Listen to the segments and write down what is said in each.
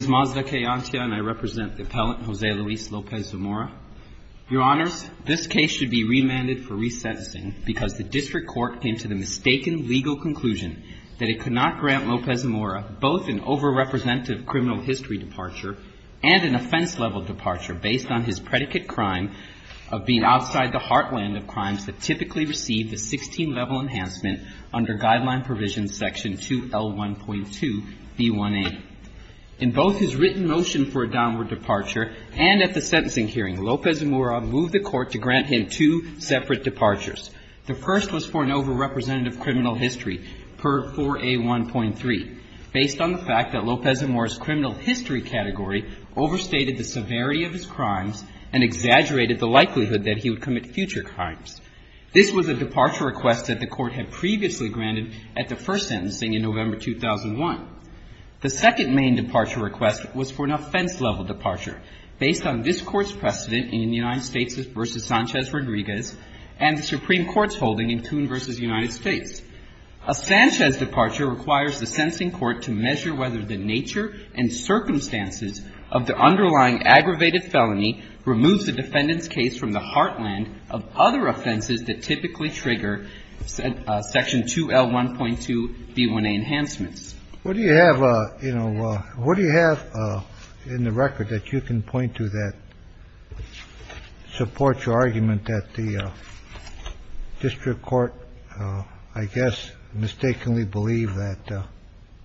I represent the appellant Jose Luis Lopez-Zamora. Your Honor, this case should be remanded for resentencing because the district court came to the mistaken legal conclusion that it could not grant Lopez-Zamora both an over-representative criminal history departure and an offense-level departure based on his predicate crime of being outside the heartland of crimes that typically receive the 16-level enhancement under guideline provision section 2L1.2B1A. In both his written motion for a downward departure and at the sentencing hearing, Lopez-Zamora moved the court to grant him two separate departures. The first was for an over-representative criminal history per 4A1.3 based on the fact that Lopez-Zamora's criminal history category overstated the severity of his crimes and exaggerated the likelihood that he would commit future crimes. This was a departure request that the court had previously granted at the first sentencing in November 2001. The second main departure request was for an offense-level departure based on this Court's precedent in the United States v. Sanchez-Rodriguez and the Supreme Court's holding in Kuhn v. United States. A Sanchez departure requires the sentencing court to measure whether the nature and circumstances of the underlying aggravated felony removes the defendant's case from the heartland of other offenses that typically trigger section 2L1.2B1A enhancements. What do you have, you know, what do you have in the record that you can point to that supports your argument that the district court, I guess, mistakenly believed that,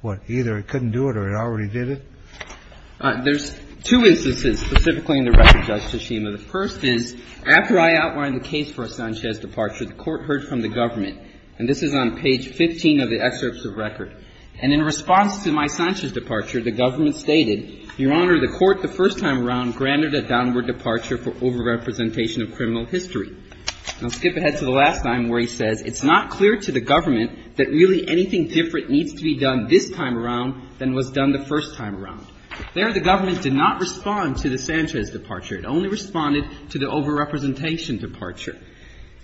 what, either it couldn't do it or it already did it? There's two instances specifically in the record, Justice Schema. The first is, after I outlined the case for a Sanchez departure, the court heard from the government. And this is on page 15 of the excerpts of record. And in response to my Sanchez departure, the government stated, Your Honor, the court the first time around granted a downward departure for overrepresentation of criminal history. I'll skip ahead to the last time where he says, it's not clear to the government that really anything different needs to be done this time around than was done the first time around. There, the government did not respond to the Sanchez departure. It only responded to the overrepresentation departure.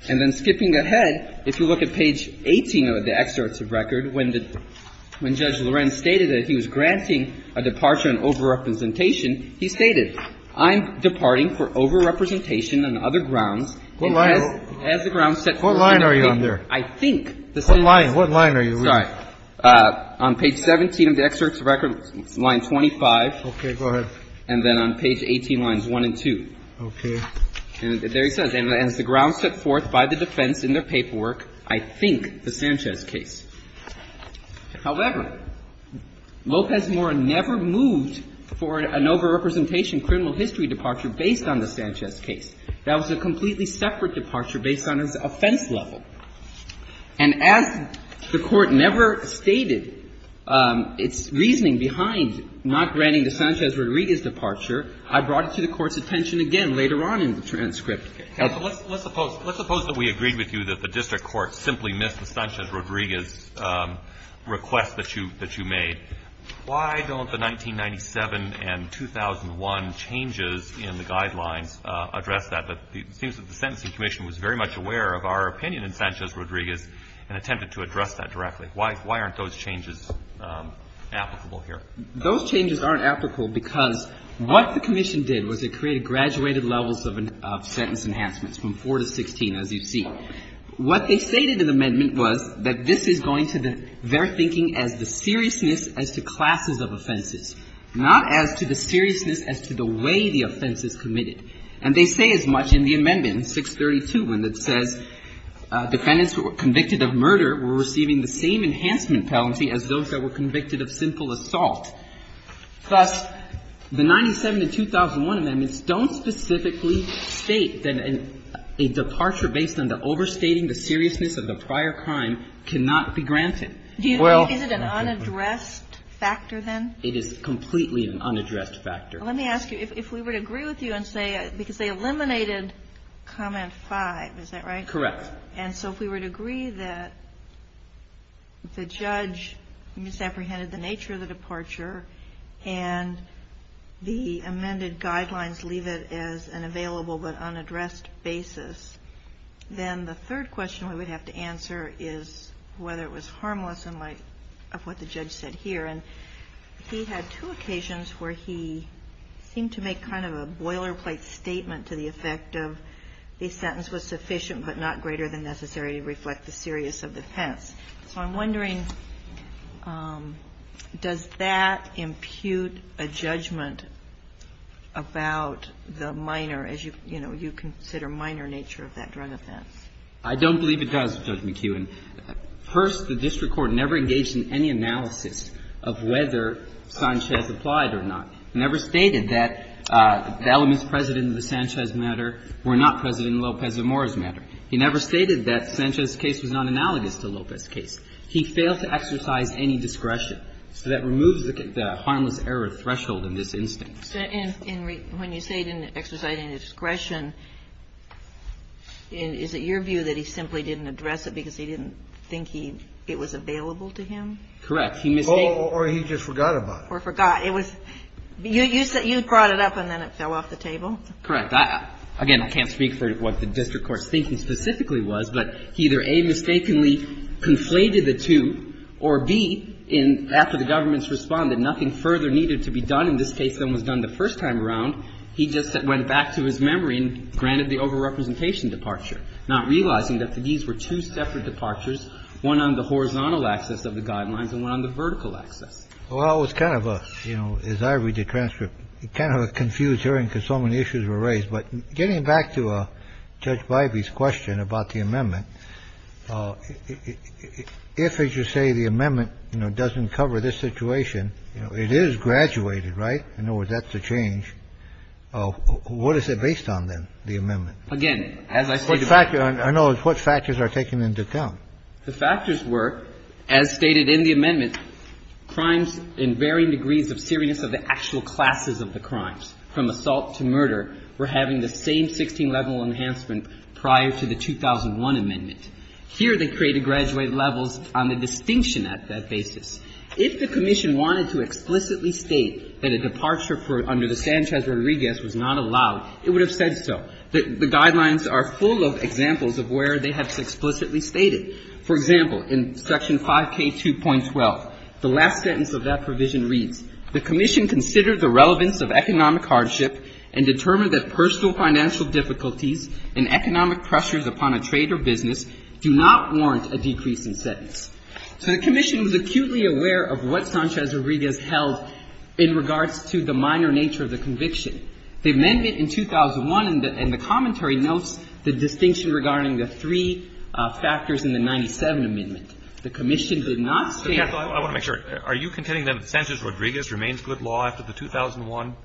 And then skipping ahead, if you look at page 18 of the excerpts of record, when the – when Judge Lorenz stated that he was granting a departure on overrepresentation, he stated, I'm departing for overrepresentation on other grounds. And as the grounds set forth in the record, I think this is the case. What line are you on there? Okay, go ahead. And then on page 18, lines 1 and 2. Okay. And there he says, and as the grounds set forth by the defense in their paperwork, I think the Sanchez case. However, Lopez Mora never moved for an overrepresentation criminal history departure based on the Sanchez case. That was a completely separate departure based on his offense level. And as the Court never stated its reasoning behind not granting the Sanchez-Rodriguez departure, I brought it to the Court's attention again later on in the transcript. Okay. Let's suppose that we agreed with you that the district court simply missed the Sanchez-Rodriguez request that you made. Why don't the 1997 and 2001 changes in the guidelines address that? It seems that the Sentencing Commission was very much aware of our opinion in Sanchez-Rodriguez and attempted to address that directly. Why aren't those changes applicable here? Those changes aren't applicable because what the Commission did was it created graduated levels of sentence enhancements from 4 to 16, as you see. What they stated in the amendment was that this is going to their thinking as the seriousness as to classes of offenses, not as to the seriousness as to the way the offense is committed. And they say as much in the amendment, 632, when it says defendants who were convicted of murder were receiving the same enhancement penalty as those that were convicted of simple assault. Thus, the 1997 and 2001 amendments don't specifically state that a departure based on the overstating the seriousness of the prior crime cannot be granted. Well Is it an unaddressed factor, then? It is completely an unaddressed factor. Let me ask you, if we were to agree with you and say, because they eliminated comment 5, is that right? Correct. And so if we were to agree that the judge misapprehended the nature of the departure and the amended guidelines leave it as an available but unaddressed basis, then the third question we would have to answer is whether it was harmless in light of what the judge said here. And he had two occasions where he seemed to make kind of a boilerplate statement to the effect of a sentence was sufficient but not greater than necessary to reflect the seriousness of the offense. So I'm wondering, does that impute a judgment about the minor, as you, you know, you consider minor nature of that drug offense? I don't believe it does, Judge McEwen. First, the district court never engaged in any analysis of whether Sanchez applied or not. It never stated that the elements present in the Sanchez matter were not present in Lopez-Amor's matter. It never stated that Sanchez's case was not analogous to Lopez's case. He failed to exercise any discretion. So that removes the harmless error threshold in this instance. And when you say he didn't exercise any discretion, is it your view that he simply didn't address it because he didn't think he – it was available to him? Correct. He mistakenly – Oh, or he just forgot about it. Or forgot. It was – you brought it up and then it fell off the table. Correct. Again, I can't speak for what the district court's thinking specifically was, but he either, A, mistakenly conflated the two, or, B, in – after the government's responded, nothing further needed to be done in this case than was done the first time around, he just went back to his memory and granted the overrepresentation or reasoned, unintended departure, not realizing that these were two separate departures, one on the horizontal axis of the Guidelines and one on the vertical axis. Well, it was kind of a – you know, as I read the transcript, it's kind of a confused hearing, because so many issues were raised. But getting back to Judge Bivey's question about the amendment, if I should say the amendment doesn't cover this situation, it is graduated, right? In other words, that's a change. What is it based on, then, the amendment? Again, as I say to my colleagues. I know. What factors are taken into account? The factors were, as stated in the amendment, crimes in varying degrees of seriousness of the actual classes of the crimes, from assault to murder, were having the same 16-level enhancement prior to the 2001 amendment. Here they created graduated levels on the distinction at that basis. If the Commission wanted to explicitly state that a departure for – under the Sanchez-Rodriguez was not allowed, it would have said so. The Guidelines are full of examples of where they have explicitly stated. For example, in Section 5K2.12, the last sentence of that provision reads, The Commission considered the relevance of economic hardship and determined that personal financial difficulties and economic pressures upon a trade or business do not warrant a decrease in sentence. So the Commission was acutely aware of what Sanchez-Rodriguez held in regards to the minor nature of the conviction. The amendment in 2001 in the commentary notes the distinction regarding the three factors in the 97 amendment. The Commission did not say – I want to make sure. Are you contending that Sanchez-Rodriguez remains good law after the 2001?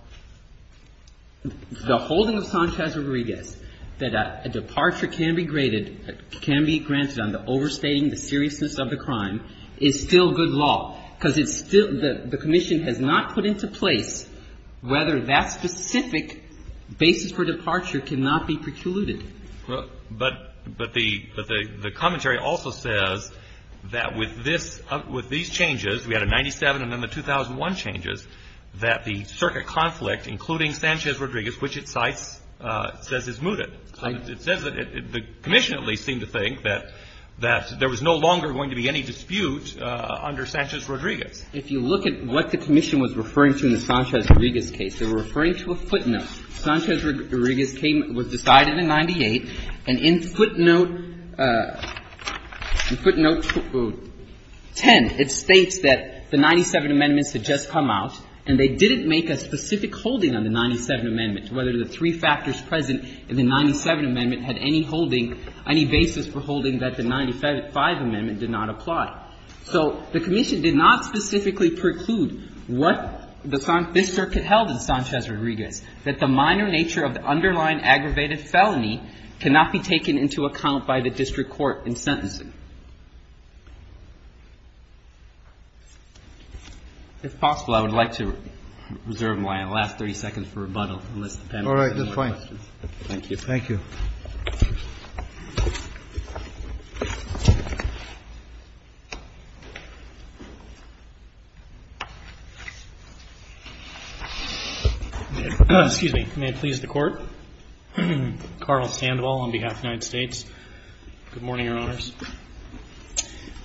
The holding of Sanchez-Rodriguez, that a departure can be graded – can be granted on the overstating, the seriousness of the crime, is still good law, because it's still – the Commission has not put into place whether that specific basis for departure cannot be precluded. But the commentary also says that with this – with these changes, we had a 97 and then the 2001 changes, that the circuit conflict, including Sanchez-Rodriguez, which it cites, says is mooted. It says that the Commission at least seemed to think that there was no longer going to be any dispute under Sanchez-Rodriguez. If you look at what the Commission was referring to in the Sanchez-Rodriguez case, they were referring to a footnote. Sanchez-Rodriguez came – was decided in 98, and in footnote – in footnote 10, it states that the 97 amendments had just come out, and they didn't make a specific holding on the 97 amendments, whether the three factors present in the 97 amendment had any holding – any basis for holding that the 95 amendment did not apply. So the Commission did not specifically preclude what the – this circuit held in Sanchez-Rodriguez, that the minor nature of the underlying aggravated felony cannot be taken into account by the district court in sentencing. If possible, I would like to reserve my last 30 seconds for rebuttal, unless the panel has any other questions. Thank you. Thank you. Excuse me. May it please the Court? Carl Sandoval on behalf of the United States. Thank you. Thank you. Thank you. Thank you. Thank you. Thank you. Thank you.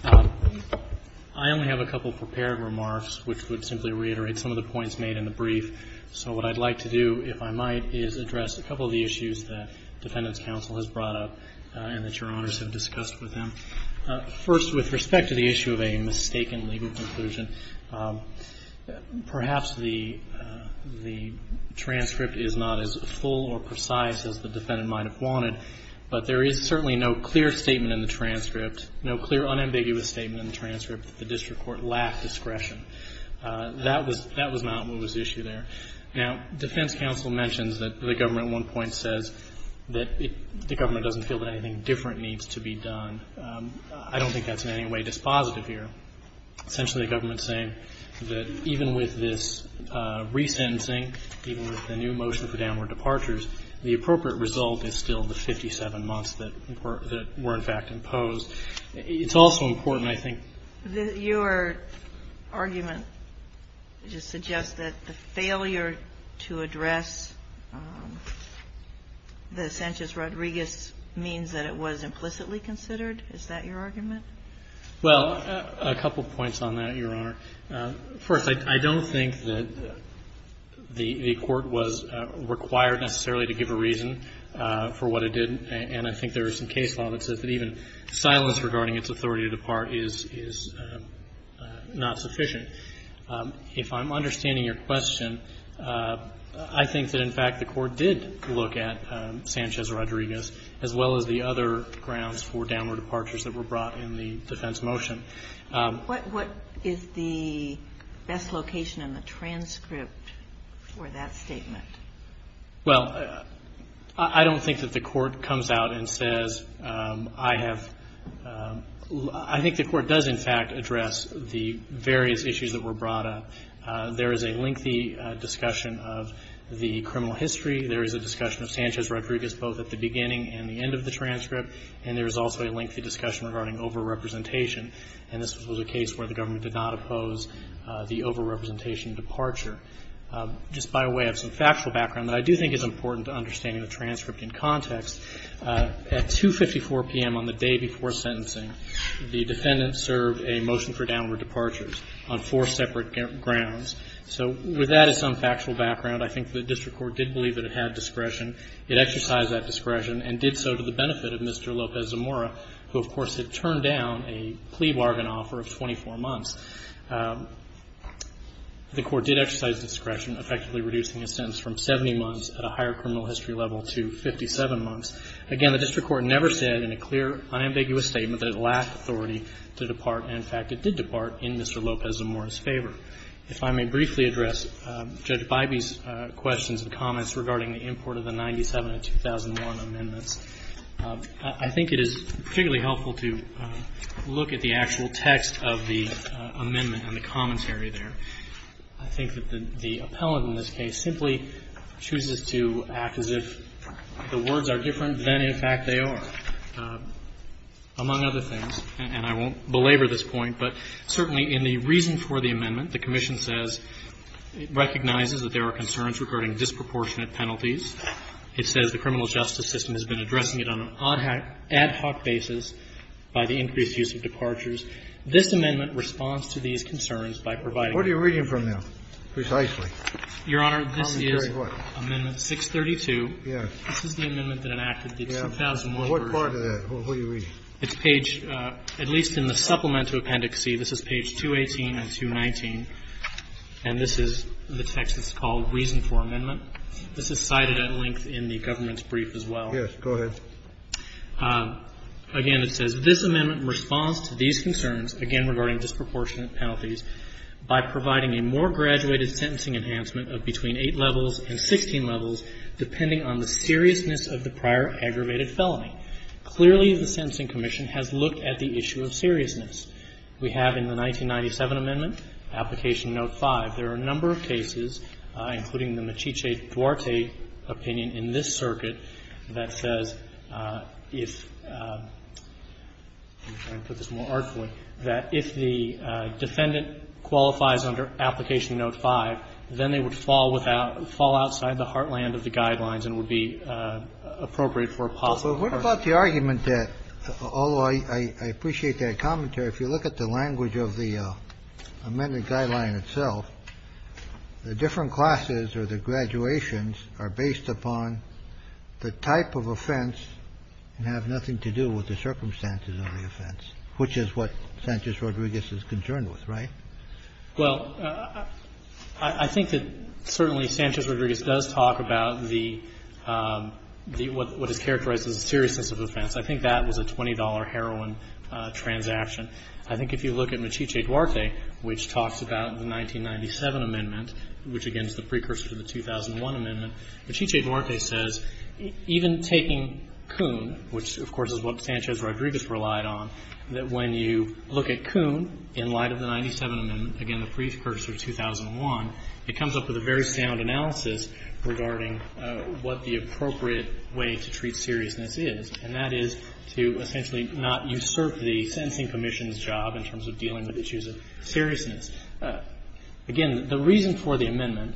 Thank you. Thank you. I only have a couple of prepared remarks, which would simply reiterate some of the points made in the brief. So what I'd like to do, if I might, is address a couple of the issues that Defendant's counsel has brought up and that Your Honors have discussed with them. First, with respect to the issue of a mistaken legal conclusion, perhaps the transcript is not as full or precise as the defendant might have wanted, but there is certainly no clear statement in the transcript, no clear unambiguous statement in the transcript that the district court lacked discretion. That was not what was at issue there. Now, defense counsel mentions that the government at one point says that the government doesn't feel that anything different needs to be done. I don't think that's in any way dispositive here. Essentially, the government is saying that even with this resentencing, even with the new motion for downward departures, the appropriate result is still the 57 months that were, in fact, imposed. It's also important, I think. Your argument just suggests that the failure to address the Sanchez-Rodriguez means that it was implicitly considered? Is that your argument? Well, a couple points on that, Your Honor. First, I don't think that the Court was required necessarily to give a reason for what it did, and I think there is some case law that says that even silence regarding its authority to depart is not sufficient. If I'm understanding your question, I think that, in fact, the Court did look at Sanchez-Rodriguez as well as the other grounds for downward departures that were brought in the defense motion. What is the best location in the transcript for that statement? Well, I don't think that the Court comes out and says, I have, I think the Court does, in fact, address the various issues that were brought up. There is a lengthy discussion of the criminal history. There is a discussion of Sanchez-Rodriguez both at the beginning and the end of the transcript, and there is also a lengthy discussion regarding overrepresentation. And this was a case where the government did not oppose the overrepresentation departure. Just by way of some factual background that I do think is important to understanding the transcript in context, at 2.54 p.m. on the day before sentencing, the defendant served a motion for downward departures on four separate grounds. So with that as some factual background, I think the district court did believe that it had discretion. It exercised that discretion and did so to the benefit of Mr. Lopez-Zamora, who, of course, had turned down a plea bargain offer of 24 months. The Court did exercise discretion, effectively reducing his sentence from 70 months at a higher criminal history level to 57 months. Again, the district court never said in a clear, unambiguous statement that it lacked authority to depart. And, in fact, it did depart in Mr. Lopez-Zamora's favor. If I may briefly address Judge Bybee's questions and comments regarding the import of the 1997-2001 amendments, I think it is particularly helpful to look at the actual text of the amendment and the commentary there. I think that the appellant in this case simply chooses to act as if the words are different than, in fact, they are, among other things. And I won't belabor this point, but certainly in the reason for the amendment, the commission says it recognizes that there are concerns regarding disproportionate penalties. It says the criminal justice system has been addressing it on an ad hoc basis by the increased use of departures. This amendment responds to these concerns by providing them. Kennedy. What are you reading from there, precisely? Your Honor, this is Amendment 632. Kennedy. Yes. This is the amendment that enacted the 2001 version. Kennedy. What are you reading? It's page at least in the supplemental appendix C. This is page 218 and 219, and this is the text that's called Reason for Amendment. This is cited at length in the government's brief as well. Yes. Go ahead. Again, it says, This amendment responds to these concerns, again regarding disproportionate penalties, by providing a more graduated sentencing enhancement of between 8 levels and 16 levels depending on the seriousness of the prior aggravated felony. Clearly, the Sentencing Commission has looked at the issue of seriousness. We have in the 1997 amendment, application note 5. There are a number of cases, including the Mechice-Duarte opinion in this circuit, that says if the defendant qualifies under application note 5, then they would fall outside the heartland of the guidelines and would be appropriate for a possible person. Well, what about the argument that, although I appreciate that commentary, if you look at the language of the amended guideline itself, the different classes or the graduations are based upon the type of offense and have nothing to do with the circumstances of the offense, which is what Sanchez-Rodriguez is concerned with, right? Well, I think that certainly Sanchez-Rodriguez does talk about the what is characterized as a seriousness of offense. I think that was a $20 heroin transaction. I think if you look at Mechice-Duarte, which talks about the 1997 amendment, which again is the precursor to the 2001 amendment, Mechice-Duarte says even taking Kuhn, which of course is what Sanchez-Rodriguez relied on, that when you look at Kuhn in light of the 1997 amendment, again the precursor to 2001, it comes up with a very sound analysis regarding what the appropriate way to treat seriousness is, and that is to essentially not usurp the sentencing commission's job in terms of dealing with issues of seriousness. Again, the reason for the amendment,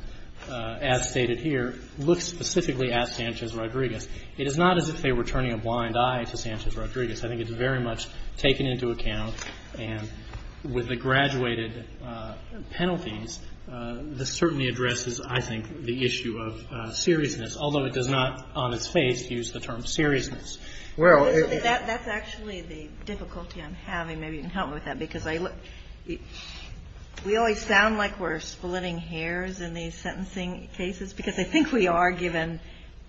as stated here, looks specifically at Sanchez-Rodriguez. It is not as if they were turning a blind eye to Sanchez-Rodriguez. I think it's very much taken into account. And with the graduated penalties, this certainly addresses, I think, the issue of seriousness, although it does not on its face use the term seriousness. Kagan. That's actually the difficulty I'm having. Maybe you can help me with that, because we always sound like we're splitting hairs in these sentencing cases, because I think we are, given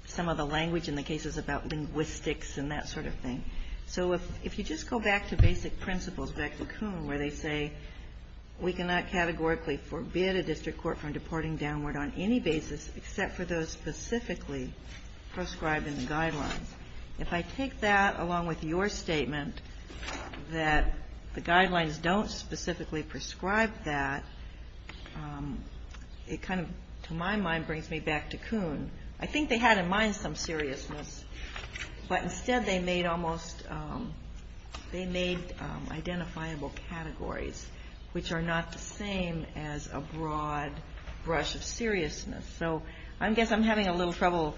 some of the language in the cases about linguistics and that sort of thing. So if you just go back to basic principles, back to Kuhn, where they say we cannot categorically forbid a district court from deporting downward on any basis except for those specifically prescribed in the guidelines. If I take that along with your statement that the guidelines don't specifically prescribe that, it kind of, to my mind, brings me back to Kuhn. I think they had in mind some seriousness, but instead they made almost, they made identifiable categories which are not the same as a broad brush of seriousness. So I guess I'm having a little trouble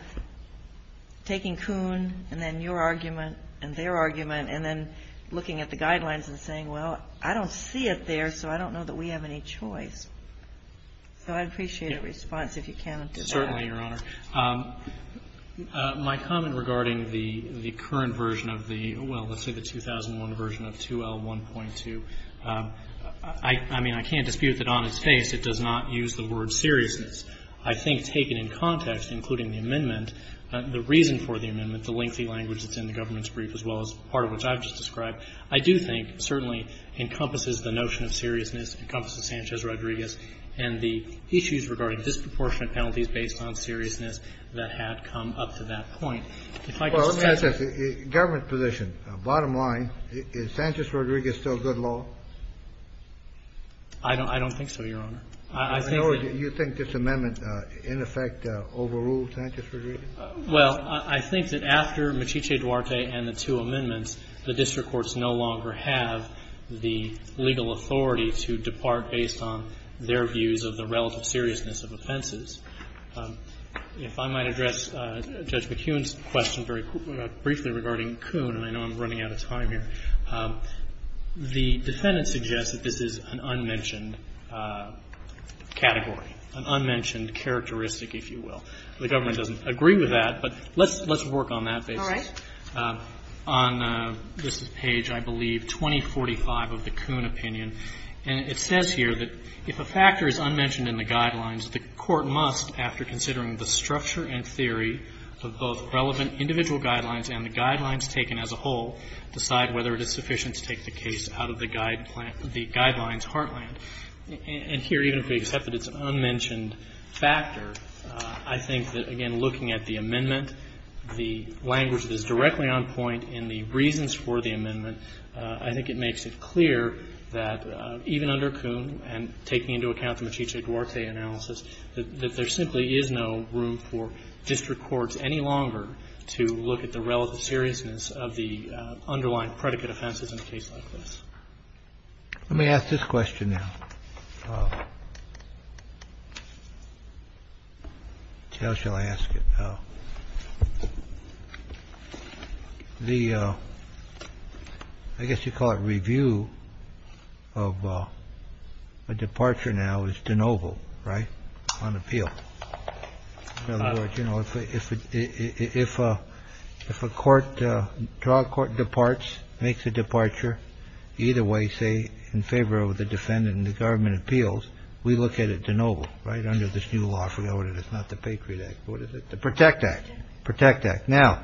taking Kuhn and then your argument and their argument and then looking at the guidelines and saying, well, I don't see it there, so I don't know that we have any choice. So I'd appreciate a response if you can to that. My comment regarding the current version of the, well, let's say the 2001 version of 2L1.2, I mean, I can't dispute that on its face it does not use the word seriousness. I think taken in context, including the amendment, the reason for the amendment, the lengthy language that's in the government's brief as well as part of which I've just described, I do think certainly encompasses the notion of seriousness, encompasses Sanchez-Rodriguez, and the issues regarding disproportionate penalties based on seriousness that had come up to that point. If I could just add to that. Kennedy. Well, let me ask this. Government position. Bottom line, is Sanchez-Rodriguez still good law? I don't think so, Your Honor. I think that. Or do you think this amendment, in effect, overruled Sanchez-Rodriguez? Well, I think that after Machice Duarte and the two amendments, the district depart based on their views of the relative seriousness of offenses. If I might address Judge McHugh's question very briefly regarding Kuhn, and I know I'm running out of time here, the defendant suggests that this is an unmentioned category, an unmentioned characteristic, if you will. The government doesn't agree with that, but let's work on that basis. All right. On this page, I believe, 2045 of the Kuhn opinion, and it says here that if a factor is unmentioned in the guidelines, the court must, after considering the structure and theory of both relevant individual guidelines and the guidelines taken as a whole, decide whether it is sufficient to take the case out of the guidelines heartland. And here, even if we accept that it's an unmentioned factor, I think that, again, looking at the amendment, the language that is directly on point in the reasons for the amendment, I think it makes it clear that even under Kuhn, and taking into account the Machice Duarte analysis, that there simply is no room for district courts any longer to look at the relative seriousness of the underlying predicate offenses in a case like this. Let me ask this question now. How shall I ask it? The I guess you call it review of a departure now is de novo. Right. On appeal. You know, if it if a court trial court departs, makes a departure either way, say in favor of the defendant in the government appeals. We look at it de novo. Right. Under this new law. Forget what it is. Not the Patriot Act. What is it? The Protect Act. Protect Act. Now,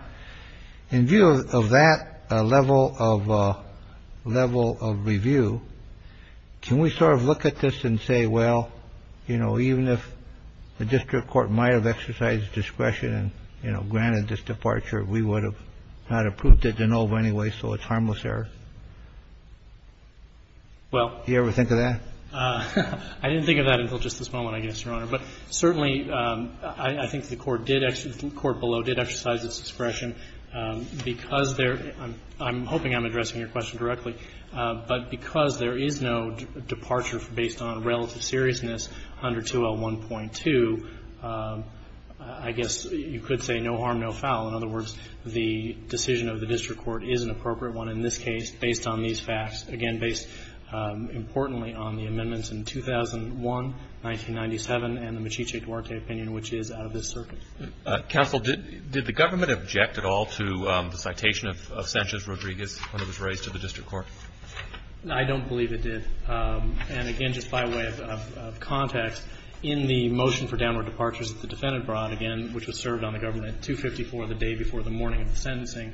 in view of that level of level of review, can we sort of look at this and say, well, you know, even if the district court might have exercised discretion and granted this departure, we would have not approved it de novo anyway, so it's harmless error? Well. Do you ever think of that? I didn't think of that until just this moment, I guess, Your Honor. But certainly, I think the court did, the court below did exercise its discretion because there, I'm hoping I'm addressing your question directly, but because there is no departure based on relative seriousness under 201.2, I guess you could say no harm, no foul. In other words, the decision of the district court is an appropriate one in this case based on these facts. Again, based importantly on the amendments in 2001, 1997, and the Mechice Duarte opinion, which is out of this circuit. Counsel, did the government object at all to the citation of Sanchez-Rodriguez when it was raised to the district court? I don't believe it did. And again, just by way of context, in the motion for downward departures that the sentencing,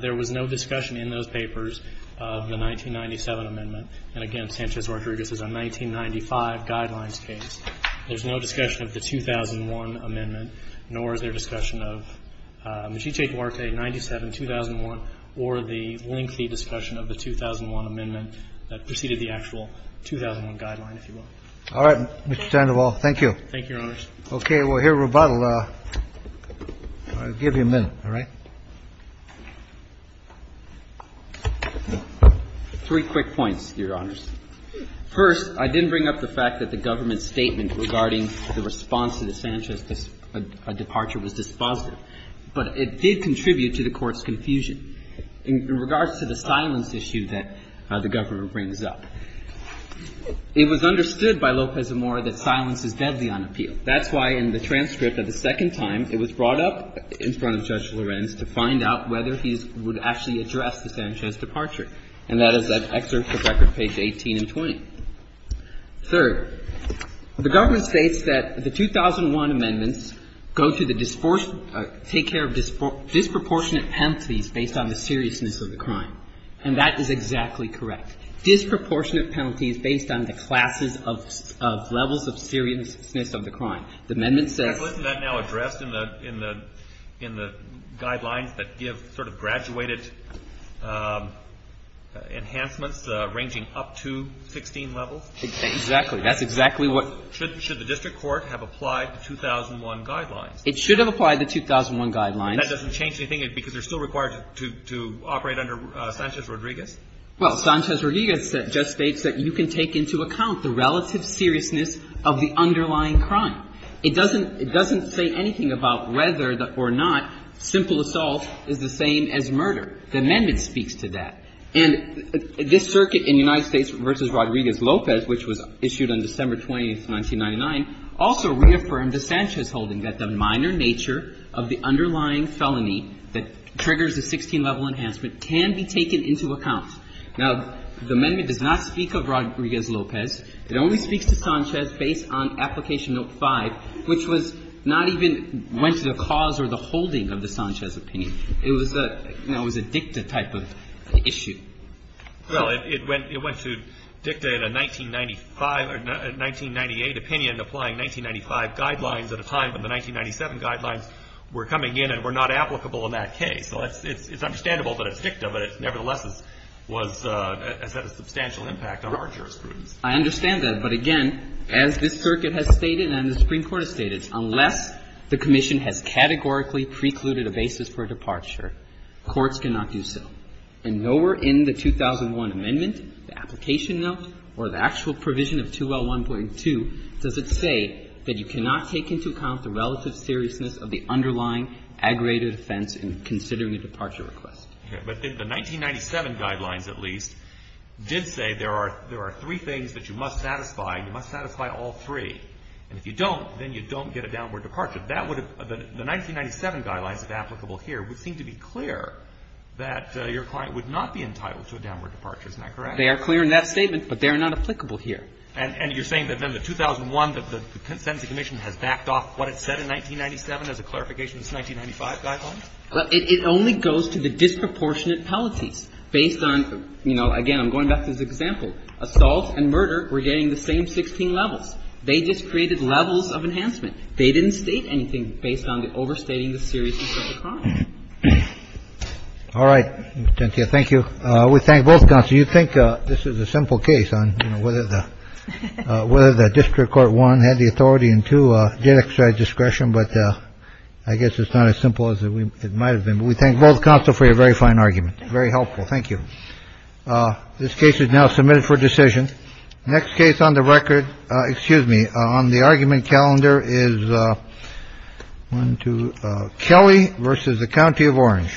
there was no discussion in those papers of the 1997 amendment. And again, Sanchez-Rodriguez is a 1995 guidelines case. There's no discussion of the 2001 amendment, nor is there discussion of Mechice Duarte, 97, 2001, or the lengthy discussion of the 2001 amendment that preceded the actual 2001 guideline, if you will. All right. Thank you, Your Honors. Okay, we'll hear rebuttal. I'll give you a minute, all right? Three quick points, Your Honors. First, I didn't bring up the fact that the government's statement regarding the response to the Sanchez departure was dispositive, but it did contribute to the Court's confusion. In regards to the silence issue that the government brings up, it was understood by Lopez Amor that silence is deadly on appeal. That's why in the transcript of the second time, it was brought up in front of Judge Lorenz to find out whether he would actually address the Sanchez departure. And that is an excerpt from record page 18 and 20. Third, the government states that the 2001 amendments go to the disportion or take care of disproportionate penalties based on the seriousness of the crime. And that is exactly correct. Disproportionate penalties based on the classes of levels of seriousness of the crime. The amendment says ---- Isn't that now addressed in the guidelines that give sort of graduated enhancements ranging up to 16 levels? Exactly. That's exactly what ---- Should the district court have applied the 2001 guidelines? It should have applied the 2001 guidelines. That doesn't change anything because they're still required to operate under Sanchez Rodriguez? Well, Sanchez Rodriguez just states that you can take into account the relative seriousness of the underlying crime. It doesn't say anything about whether or not simple assault is the same as murder. The amendment speaks to that. And this circuit in United States v. Rodriguez-Lopez, which was issued on December 20, 1999, also reaffirmed the Sanchez holding that the minor nature of the underlying felony that triggers a 16-level enhancement can be taken into account. Now, the amendment does not speak of Rodriguez-Lopez. It only speaks to Sanchez based on Application Note 5, which was not even ---- went to the cause or the holding of the Sanchez opinion. It was a, you know, it was a dicta type of issue. Well, it went to dicta in a 1995 or 1998 opinion applying 1995 guidelines at a time, and the 1997 guidelines were coming in and were not applicable in that case. So it's understandable that it's dicta, but it nevertheless was ---- has had a substantial impact on our jurisprudence. I understand that. But again, as this circuit has stated and the Supreme Court has stated, unless the commission has categorically precluded a basis for departure, courts cannot do so. And nowhere in the 2001 amendment, the Application Note, or the actual provision of 2L1.2, does it say that you cannot take into account the relative seriousness of the underlying aggravated offense in considering a departure request. Okay. But the 1997 guidelines, at least, did say there are three things that you must satisfy. You must satisfy all three. And if you don't, then you don't get a downward departure. That would have ---- the 1997 guidelines that are applicable here would seem to be clear that your client would not be entitled to a downward departure. Isn't that correct? They are clear in that statement, but they are not applicable here. And you're saying that then the 2001, that the Consent of the Commission has backed off what it said in 1997 as a clarification of the 1995 guidelines? Well, it only goes to the disproportionate penalties based on, you know, again, I'm going back to this example. Assault and murder were getting the same 16 levels. They just created levels of enhancement. They didn't state anything based on the overstating the seriousness of the crime. All right. Thank you. Thank you. We thank both. So you think this is a simple case on whether the whether the district court one had the authority and to get discretion. But I guess it's not as simple as it might have been. We thank both counsel for your very fine argument. Very helpful. Thank you. This case is now submitted for decision. Next case on the record. Excuse me. On the argument calendar is one to Kelly versus the county of Orange.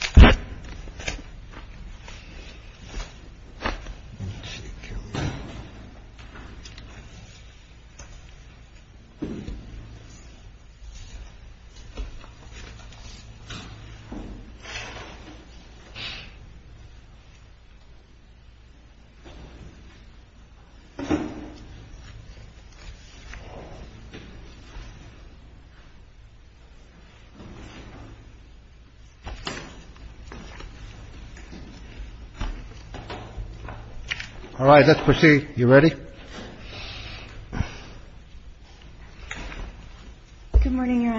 Thank you. Thank you. Thank you. Thank you. Thank you. Thank you. Thank you.